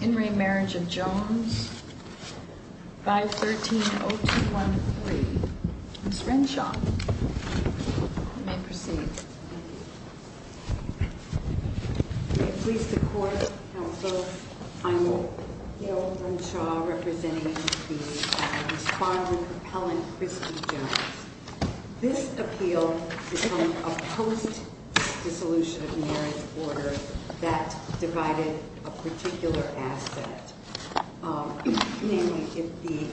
In re Marriage of Jones 513-0213. Ms. Renshaw, you may proceed. May it please the Court, Counsel, I'm Yael Renshaw, representing the respondent appellant, Christy Jones. This appeal is from a post-dissolution of marriage order that divided a particular asset, namely, if the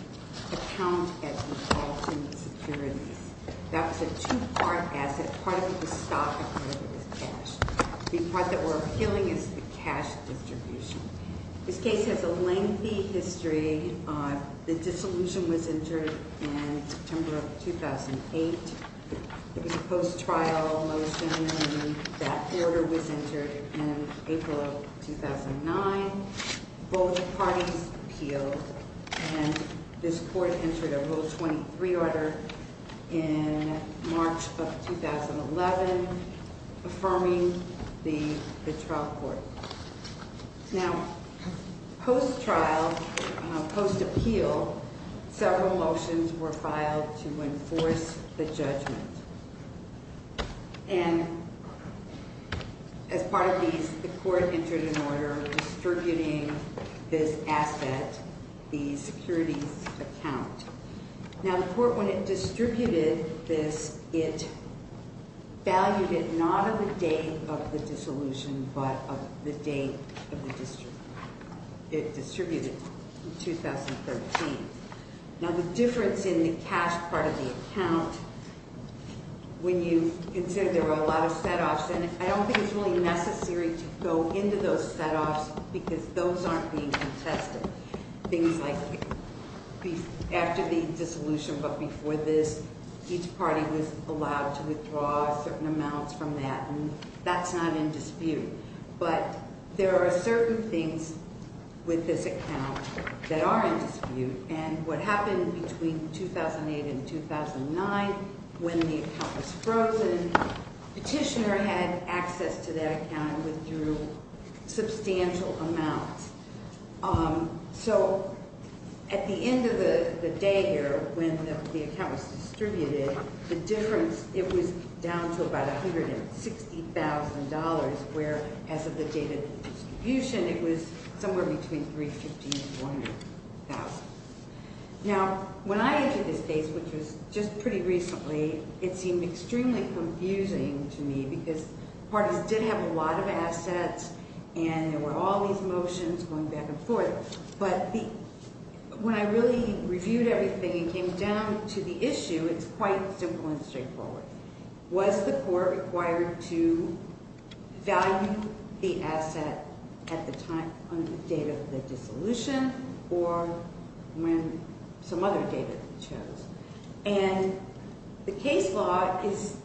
account gets involved in the securities. That was a two-part asset. Part of it was stock and part of it was cash. The part that we're appealing is the cash distribution. This case has a lengthy history. The dissolution was entered in September of 2008. It was a post-trial motion and that order was entered in April of 2009. Both parties appealed and this Court entered a Rule 23 order in March of 2011, affirming the trial court. Now, post-trial, post-appeal, several motions were filed to enforce the judgment. And as part of these, the Court entered an order distributing this asset, the securities account. Now, the Court, when it distributed this, it valued it not of the date of the dissolution but of the date of the distribution. It distributed it in 2013. Now, the difference in the cash part of the account, when you consider there were a lot of set-offs, and I don't think it's really necessary to go into those set-offs because those aren't being contested. Things like after the dissolution but before this, each party was allowed to withdraw certain amounts from that, and that's not in dispute. But there are certain things with this account that are in dispute. And what happened between 2008 and 2009, when the account was frozen, Petitioner had access to that account and withdrew substantial amounts. So at the end of the day here, when the account was distributed, the difference, it was down to about $160,000, where as of the date of the distribution, it was somewhere between $315,000 and $400,000. Now, when I entered this case, which was just pretty recently, it seemed extremely confusing to me because parties did have a lot of assets and there were all these motions going back and forth. But when I really reviewed everything and came down to the issue, it's quite simple and straightforward. Was the court required to value the asset at the time, on the date of the dissolution, or when some other date it shows? And the case law is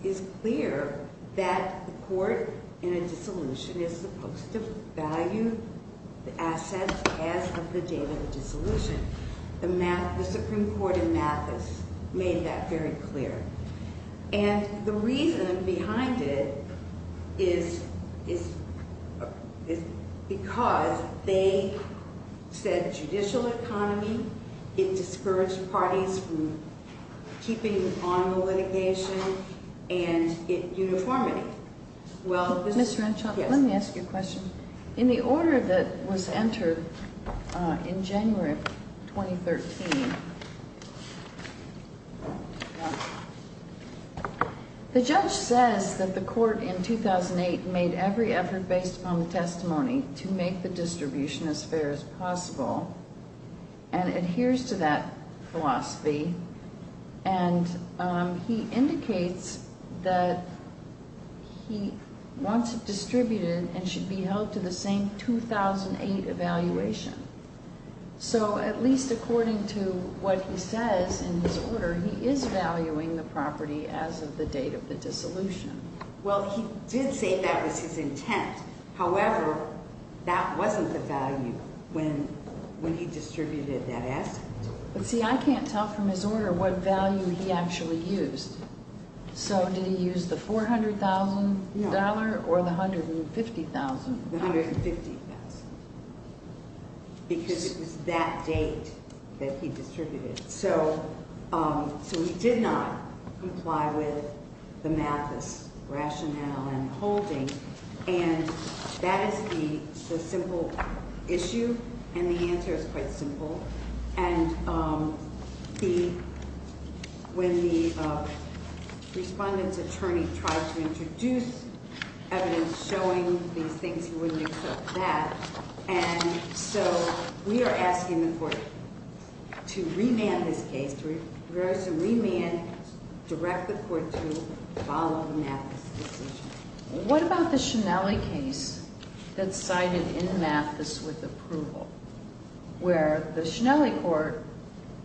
clear that the court in a dissolution is supposed to value the assets as of the date of the dissolution. The Supreme Court in Mathis made that very clear. And the reason behind it is because they said judicial economy, it discouraged parties from keeping on the litigation, and it uniformity. Ms. Renshaw, let me ask you a question. In the order that was entered in January of 2013, the judge says that the court in 2008 made every effort based upon the testimony to make the distribution as fair as possible and adheres to that philosophy. And he indicates that he wants it distributed and should be held to the same 2008 evaluation. So at least according to what he says in his order, he is valuing the property as of the date of the dissolution. Well, he did say that was his intent. However, that wasn't the value when he distributed that asset. But see, I can't tell from his order what value he actually used. So did he use the $400,000 or the $150,000? The $150,000, because it was that date that he distributed. So he did not comply with the Mathis rationale and holding. And that is the simple issue, and the answer is quite simple. And when the respondent's attorney tried to introduce evidence showing these things, he wouldn't accept that. And so we are asking the court to remand this case, to reverse the remand, direct the court to follow the Mathis decision. What about the Shinnelli case that's cited in Mathis with approval, where the Shinnelli court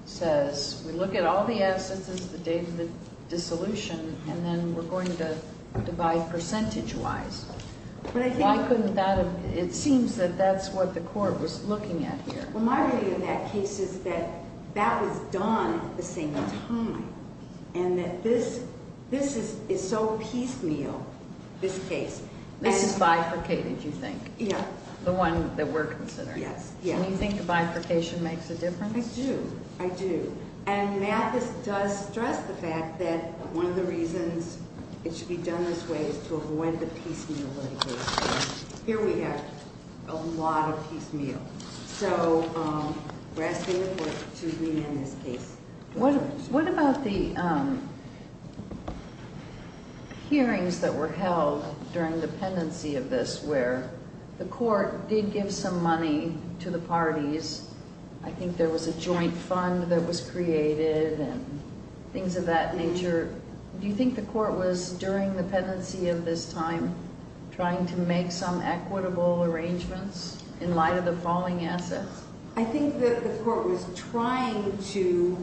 says, we look at all the assets as the date of the dissolution, and then we're going to divide percentage-wise? It seems that that's what the court was looking at here. Well, my reading of that case is that that was done at the same time, and that this is so piecemeal, this case. This is bifurcated, you think? Yeah. The one that we're considering. Yes, yes. And you think bifurcation makes a difference? I do, I do. And Mathis does stress the fact that one of the reasons it should be done this way is to avoid the piecemeal litigation. Here we have a lot of piecemeal. So we're asking the court to remand this case. What about the hearings that were held during the pendency of this, where the court did give some money to the parties? I think there was a joint fund that was created and things of that nature. Do you think the court was, during the pendency of this time, trying to make some equitable arrangements in light of the falling assets? I think the court was trying to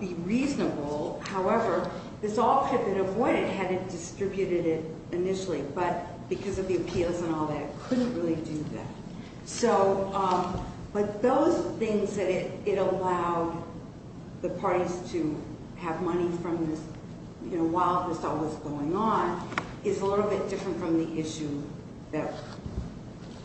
be reasonable. However, this all could have been avoided had it distributed it initially, but because of the appeals and all that, it couldn't really do that. But those things that it allowed the parties to have money while this all was going on is a little bit different from the issue that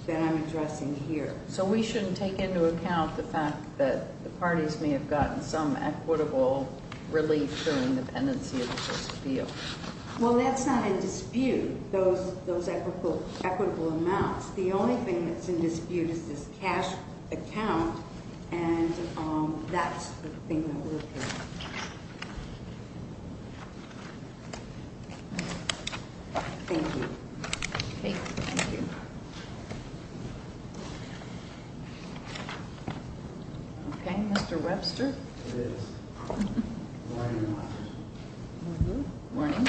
I'm addressing here. So we shouldn't take into account the fact that the parties may have gotten some equitable relief during the pendency of this appeal? Well, that's not in dispute, those equitable amounts. The only thing that's in dispute is this cash account, and that's the thing that we're hearing. Thank you. Thank you. Okay, Mr. Webster. It is. Good morning. Good morning.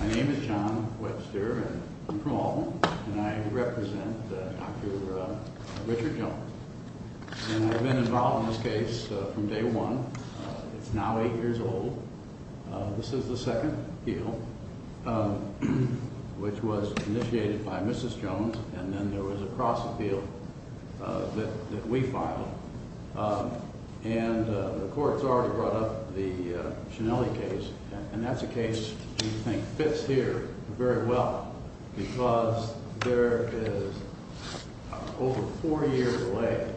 My name is John Webster, and I'm from Albemarle, and I represent Dr. Richard Jones. And I've been involved in this case from day one. It's now eight years old. This is the second appeal, which was initiated by Mrs. Jones, and then there was a cross-appeal that we filed. And the court's already brought up the Schenelle case, and that's a case we think fits here very well because there is over four years away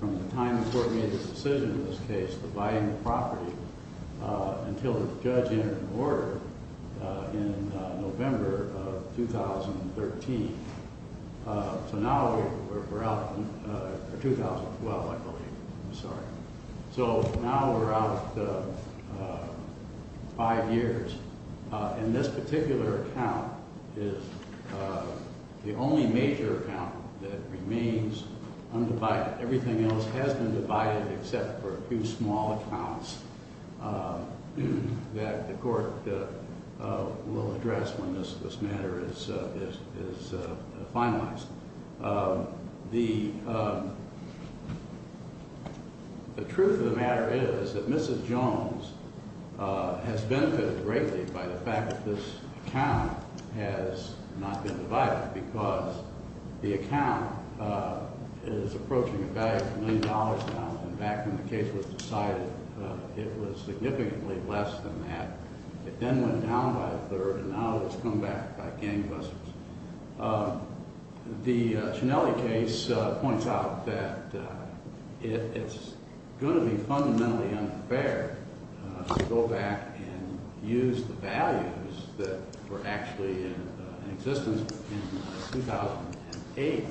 from the time the court made the decision in this case, the buying of property, until the judge entered an order in November of 2013. So now we're out in 2012, I believe. I'm sorry. So now we're out five years, and this particular account is the only major account that remains undivided. Everything else has been divided except for a few small accounts that the court will address when this matter is finalized. The truth of the matter is that Mrs. Jones has benefited greatly by the fact that this account has not been divided because the account is approaching a value of a million dollars now. And back when the case was decided, it was significantly less than that. It then went down by a third, and now it's come back by gangbusters. The Schenelle case points out that it's going to be fundamentally unfair to go back and use the values that were actually in existence in 2008.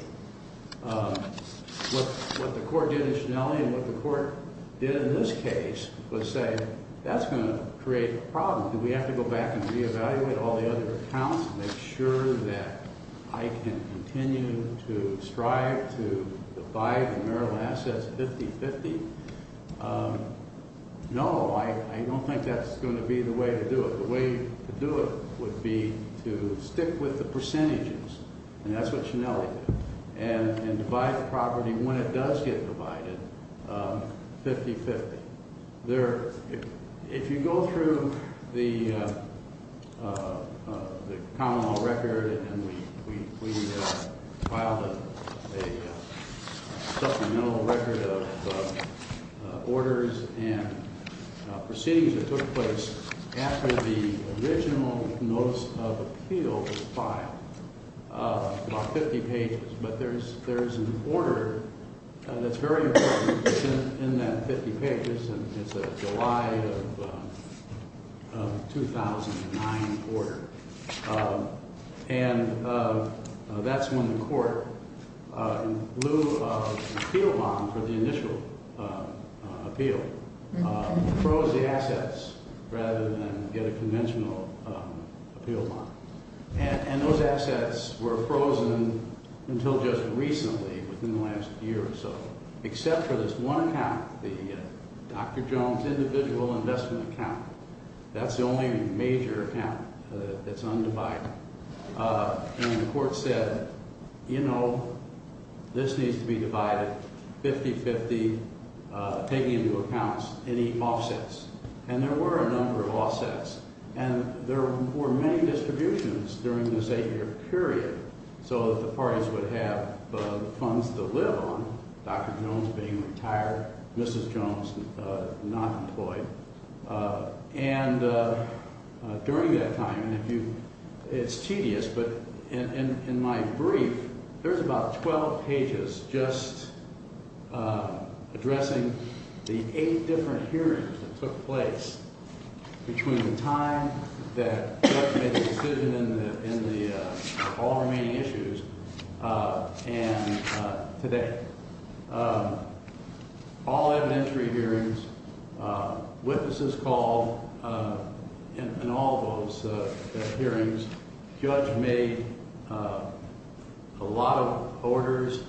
What the court did in Schenelle and what the court did in this case was say that's going to create a problem. Do we have to go back and reevaluate all the other accounts and make sure that I can continue to strive to divide the marital assets 50-50? No, I don't think that's going to be the way to do it. The way to do it would be to stick with the percentages, and that's what Schenelle did, and divide the property when it does get divided 50-50. If you go through the common law record, and we filed a supplemental record of orders and proceedings that took place after the original notice of appeal was filed, about 50 pages, but there's an order that's very important in that 50 pages, and it's a July of 2009 order, and that's when the court, in lieu of an appeal bond for the initial appeal, froze the assets rather than get a conventional appeal bond. And those assets were frozen until just recently, within the last year or so, except for this one account, the Dr. Jones individual investment account. That's the only major account that's undivided. And the court said, you know, this needs to be divided 50-50, taking into account any offsets. And there were a number of offsets, and there were many distributions during this eight-year period so that the parties would have the funds to live on, Dr. Jones being retired, Mrs. Jones not employed. And during that time, it's tedious, but in my brief, there's about 12 pages just addressing the eight different hearings that took place between the time that Judge made the decision in the all remaining issues and today. All evidentiary hearings, witnesses called in all those hearings, Judge made a lot of orders,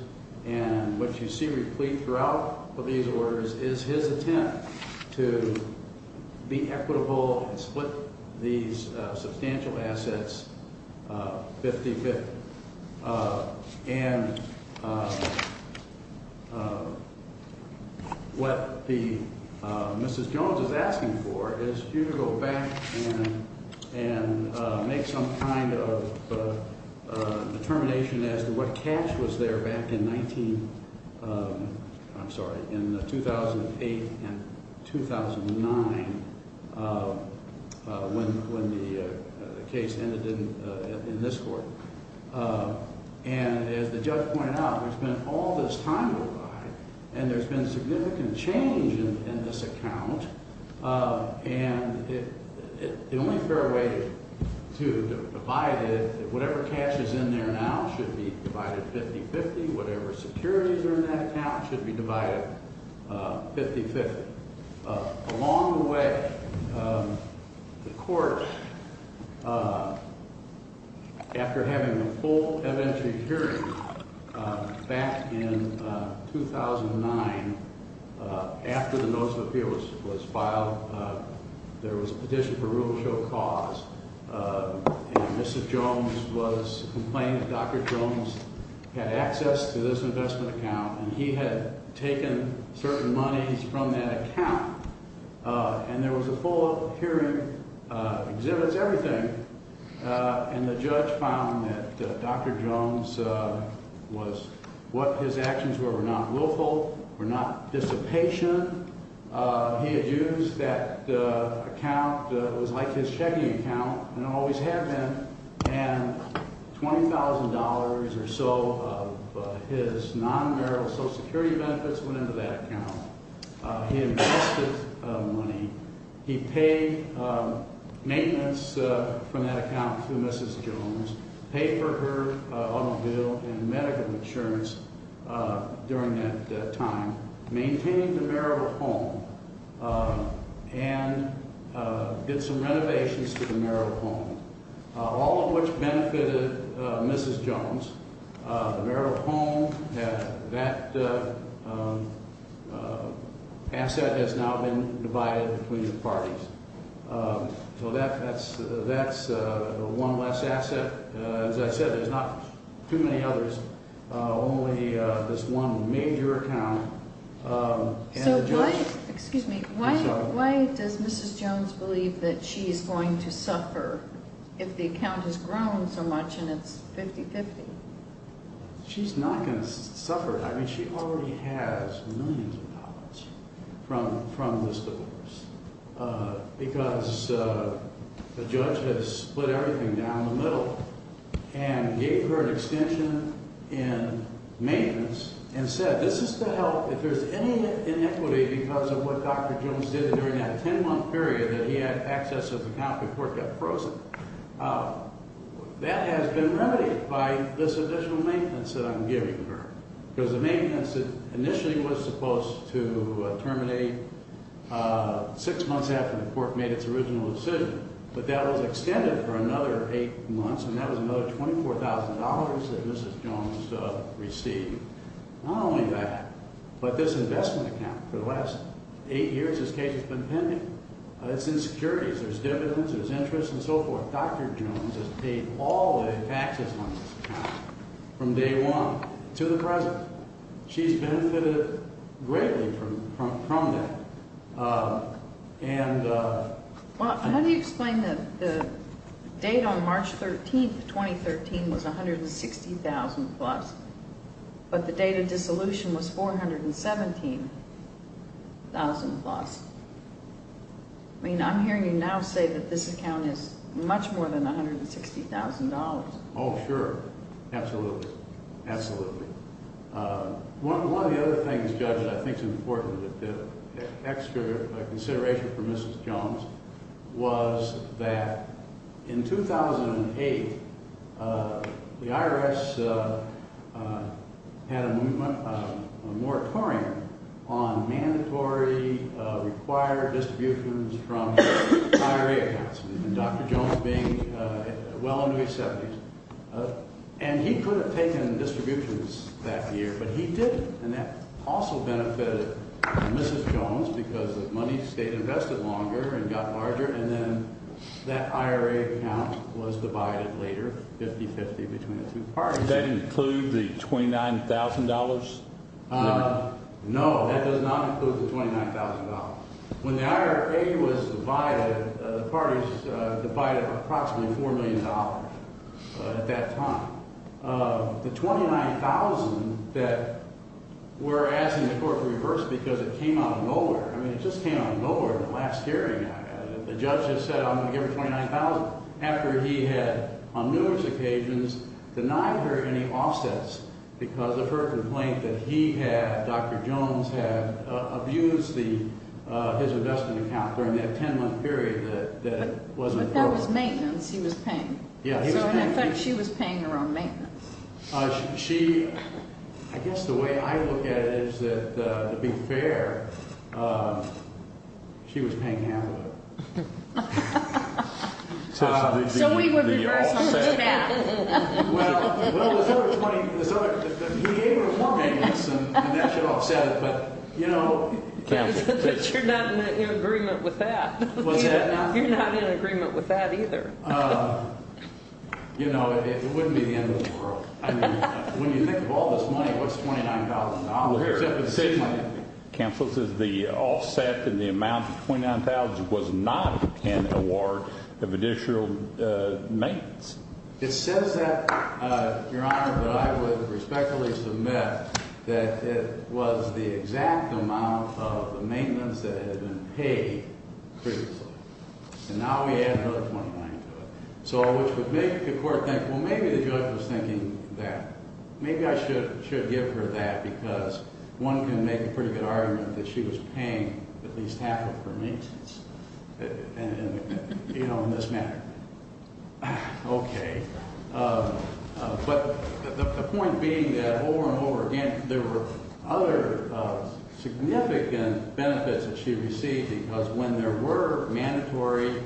and what you see replete throughout these orders is his attempt to be equitable and split these substantial assets 50-50. And what Mrs. Jones is asking for is for you to go back and make some kind of determination as to what cash was there back in 19 – I'm sorry, in 2008 and 2009 when the case ended in this court. And as the judge pointed out, there's been all this time to arrive, and there's been significant change in this account. And the only fair way to divide it, whatever cash is in there now should be divided 50-50. Whatever securities are in that account should be divided 50-50. But along the way, the court, after having a full evidentiary hearing back in 2009, after the notice of appeals was filed, there was a petition for room to show cause. And Mrs. Jones was complaining that Dr. Jones had access to this investment account, and he had taken certain monies from that account. And there was a full hearing, exhibits, everything, and the judge found that Dr. Jones was – what his actions were were not willful, were not dissipation. He had used that account. It was like his checking account and always had been. And $20,000 or so of his non-marital Social Security benefits went into that account. He invested money. He paid maintenance from that account to Mrs. Jones, paid for her automobile and medical insurance during that time, maintained the marital home, and did some renovations to the marital home, all of which benefited Mrs. Jones. The marital home, that asset has now been divided between the parties. So that's one less asset. As I said, there's not too many others, only this one major account. So why – excuse me – why does Mrs. Jones believe that she is going to suffer if the account has grown so much and it's 50-50? She's not going to suffer. I mean, she already has millions of dollars from this divorce because the judge has split everything down the middle and gave her an extension in maintenance and said this is to help if there's any inequity because of what Dr. Jones did during that 10-month period that he had access to the account before it got frozen. That has been remedied by this additional maintenance that I'm giving her. Because the maintenance that initially was supposed to terminate six months after the court made its original decision, but that was extended for another eight months and that was another $24,000 that Mrs. Jones received. Not only that, but this investment account for the last eight years, this case has been pending. It's insecurities. There's dividends. There's interest and so forth. Dr. Jones has paid all the taxes on this account from day one to the present. She's benefited greatly from that. How do you explain that the date on March 13, 2013 was $160,000 plus, but the date of dissolution was $417,000 plus? I mean, I'm hearing you now say that this account is much more than $160,000. Oh, sure. Absolutely. Absolutely. One of the other things, Judge, that I think is important, an extra consideration for Mrs. Jones, was that in 2008, the IRS had a movement, a moratorium on mandatory required distributions from IRA accounts. And Dr. Jones being well into his 70s, and he could have taken distributions that year, but he didn't. And that also benefited Mrs. Jones because the money stayed invested longer and got larger, and then that IRA account was divided later 50-50 between the two parties. Does that include the $29,000 limit? No, that does not include the $29,000. When the IRA was divided, the parties divided approximately $4 million at that time. The $29,000 that we're asking the court to reverse because it came out of nowhere. I mean, it just came out of nowhere in the last hearing. The judge just said, I'm going to give her $29,000 after he had, on numerous occasions, denied her any offsets because of her complaint that he had, Dr. Jones had abused his investment account during that 10-month period that it wasn't affordable. But that was maintenance he was paying. Yeah, he was paying for it. So in effect, she was paying her own maintenance. She, I guess the way I look at it is that, to be fair, she was paying half of it. So we would reverse the math. Well, he gave her more maintenance and that should offset it, but you know. But you're not in agreement with that. Was I not? You're not in agreement with that either. You know, it wouldn't be the end of the world. I mean, when you think of all this money, what's $29,000? Counsel says the offset and the amount of $29,000 was not an award of additional maintenance. It says that, Your Honor, but I would respectfully submit that it was the exact amount of the maintenance that had been paid previously. And now we add another $29,000 to it. So which would make the court think, well, maybe the judge was thinking that. Maybe I should give her that because one can make a pretty good argument that she was paying at least half of her maintenance, you know, in this manner. Okay. But the point being that over and over again, there were other significant benefits that she received because when there were mandatory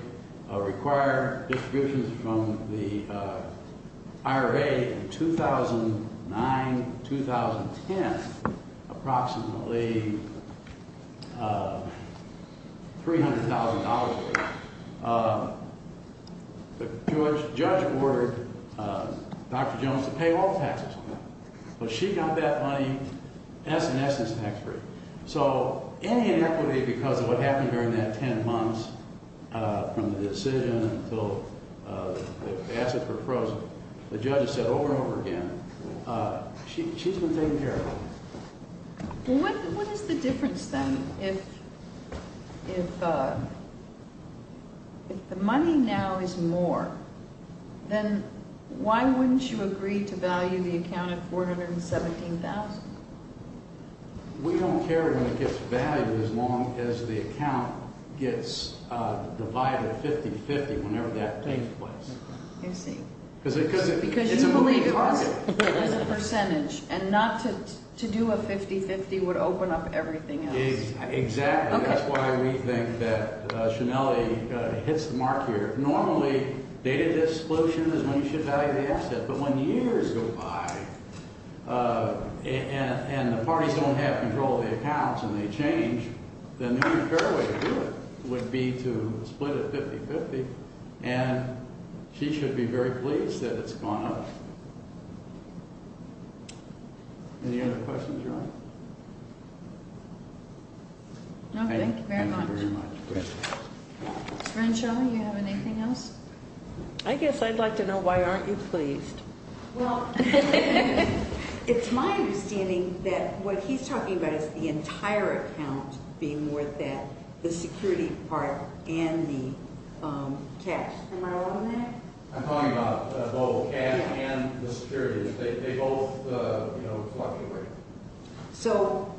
required distributions from the IRA in 2009, 2010, approximately $300,000 worth, the judge ordered Dr. Jones to pay all taxes on that. But she got that money S and S's tax-free. So any inequity because of what happened during that 10 months from the decision until the assets were frozen, the judge has said over and over again, she's been taken care of. What is the difference then if the money now is more, then why wouldn't you agree to value the account at $417,000? We don't care when it gets valued as long as the account gets divided 50-50 whenever that takes place. I see. Because it's a moving target. As a percentage. And not to do a 50-50 would open up everything else. Exactly. Okay. That's why we think that Shanelle hits the mark here. Normally, data disclosure is when you should value the asset. But when years go by and the parties don't have control of the accounts and they change, then the only fair way to do it would be to split it 50-50. And she should be very pleased that it's gone up. Any other questions, Your Honor? No, thank you very much. Thank you very much. Ms. Renshaw, do you have anything else? I guess I'd like to know why aren't you pleased? Well, it's my understanding that what he's talking about is the entire account being worth that, the security part and the cash. Am I wrong on that? I'm talking about both, cash and the security. They both fluctuate. So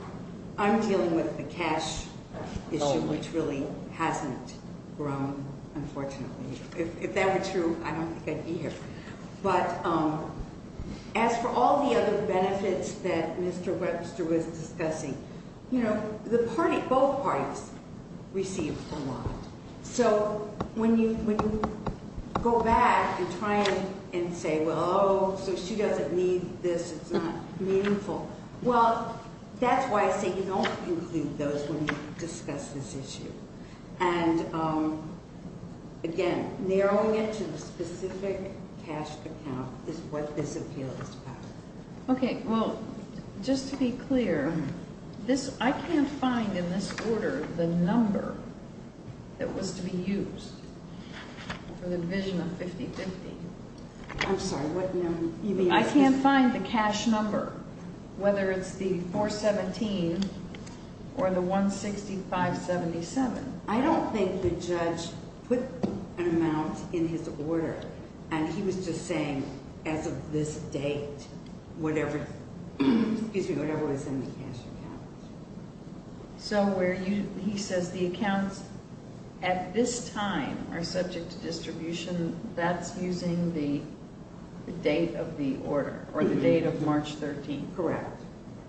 I'm dealing with the cash issue, which really hasn't grown, unfortunately. If that were true, I don't think I'd be here. But as for all the other benefits that Mr. Webster was discussing, you know, both parties receive a lot. So when you go back and try and say, well, oh, so she doesn't need this, it's not meaningful. Well, that's why I say you don't include those when you discuss this issue. And, again, narrowing it to a specific cash account is what this appeal is about. Okay, well, just to be clear, I can't find in this order the number that was to be used for the division of 50-50. I'm sorry, what number? I can't find the cash number, whether it's the 417 or the 165-77. I don't think the judge put an amount in his order, and he was just saying, as of this date, whatever was in the cash account. So where he says the accounts at this time are subject to distribution, that's using the date of the order, or the date of March 13th? Correct.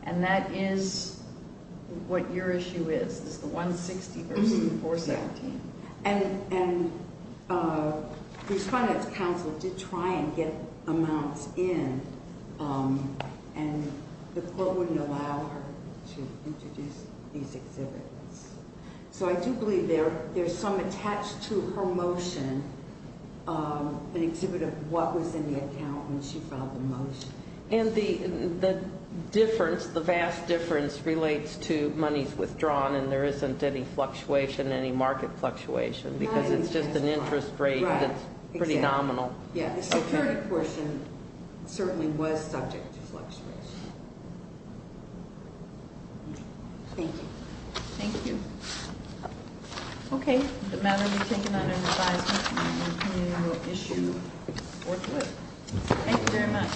And that is what your issue is, is the 160 versus the 417. And the respondent's counsel did try and get amounts in, and the court wouldn't allow her to introduce these exhibits. So I do believe there's some attached to her motion, an exhibit of what was in the account when she filed the motion. And the difference, the vast difference, relates to monies withdrawn, and there isn't any fluctuation, any market fluctuation, because it's just an interest rate that's pretty nominal. Yeah, the security portion certainly was subject to fluctuation. Thank you. Thank you. Okay, the matter will be taken under advisement, and the committee will issue or quit. Thank you very much.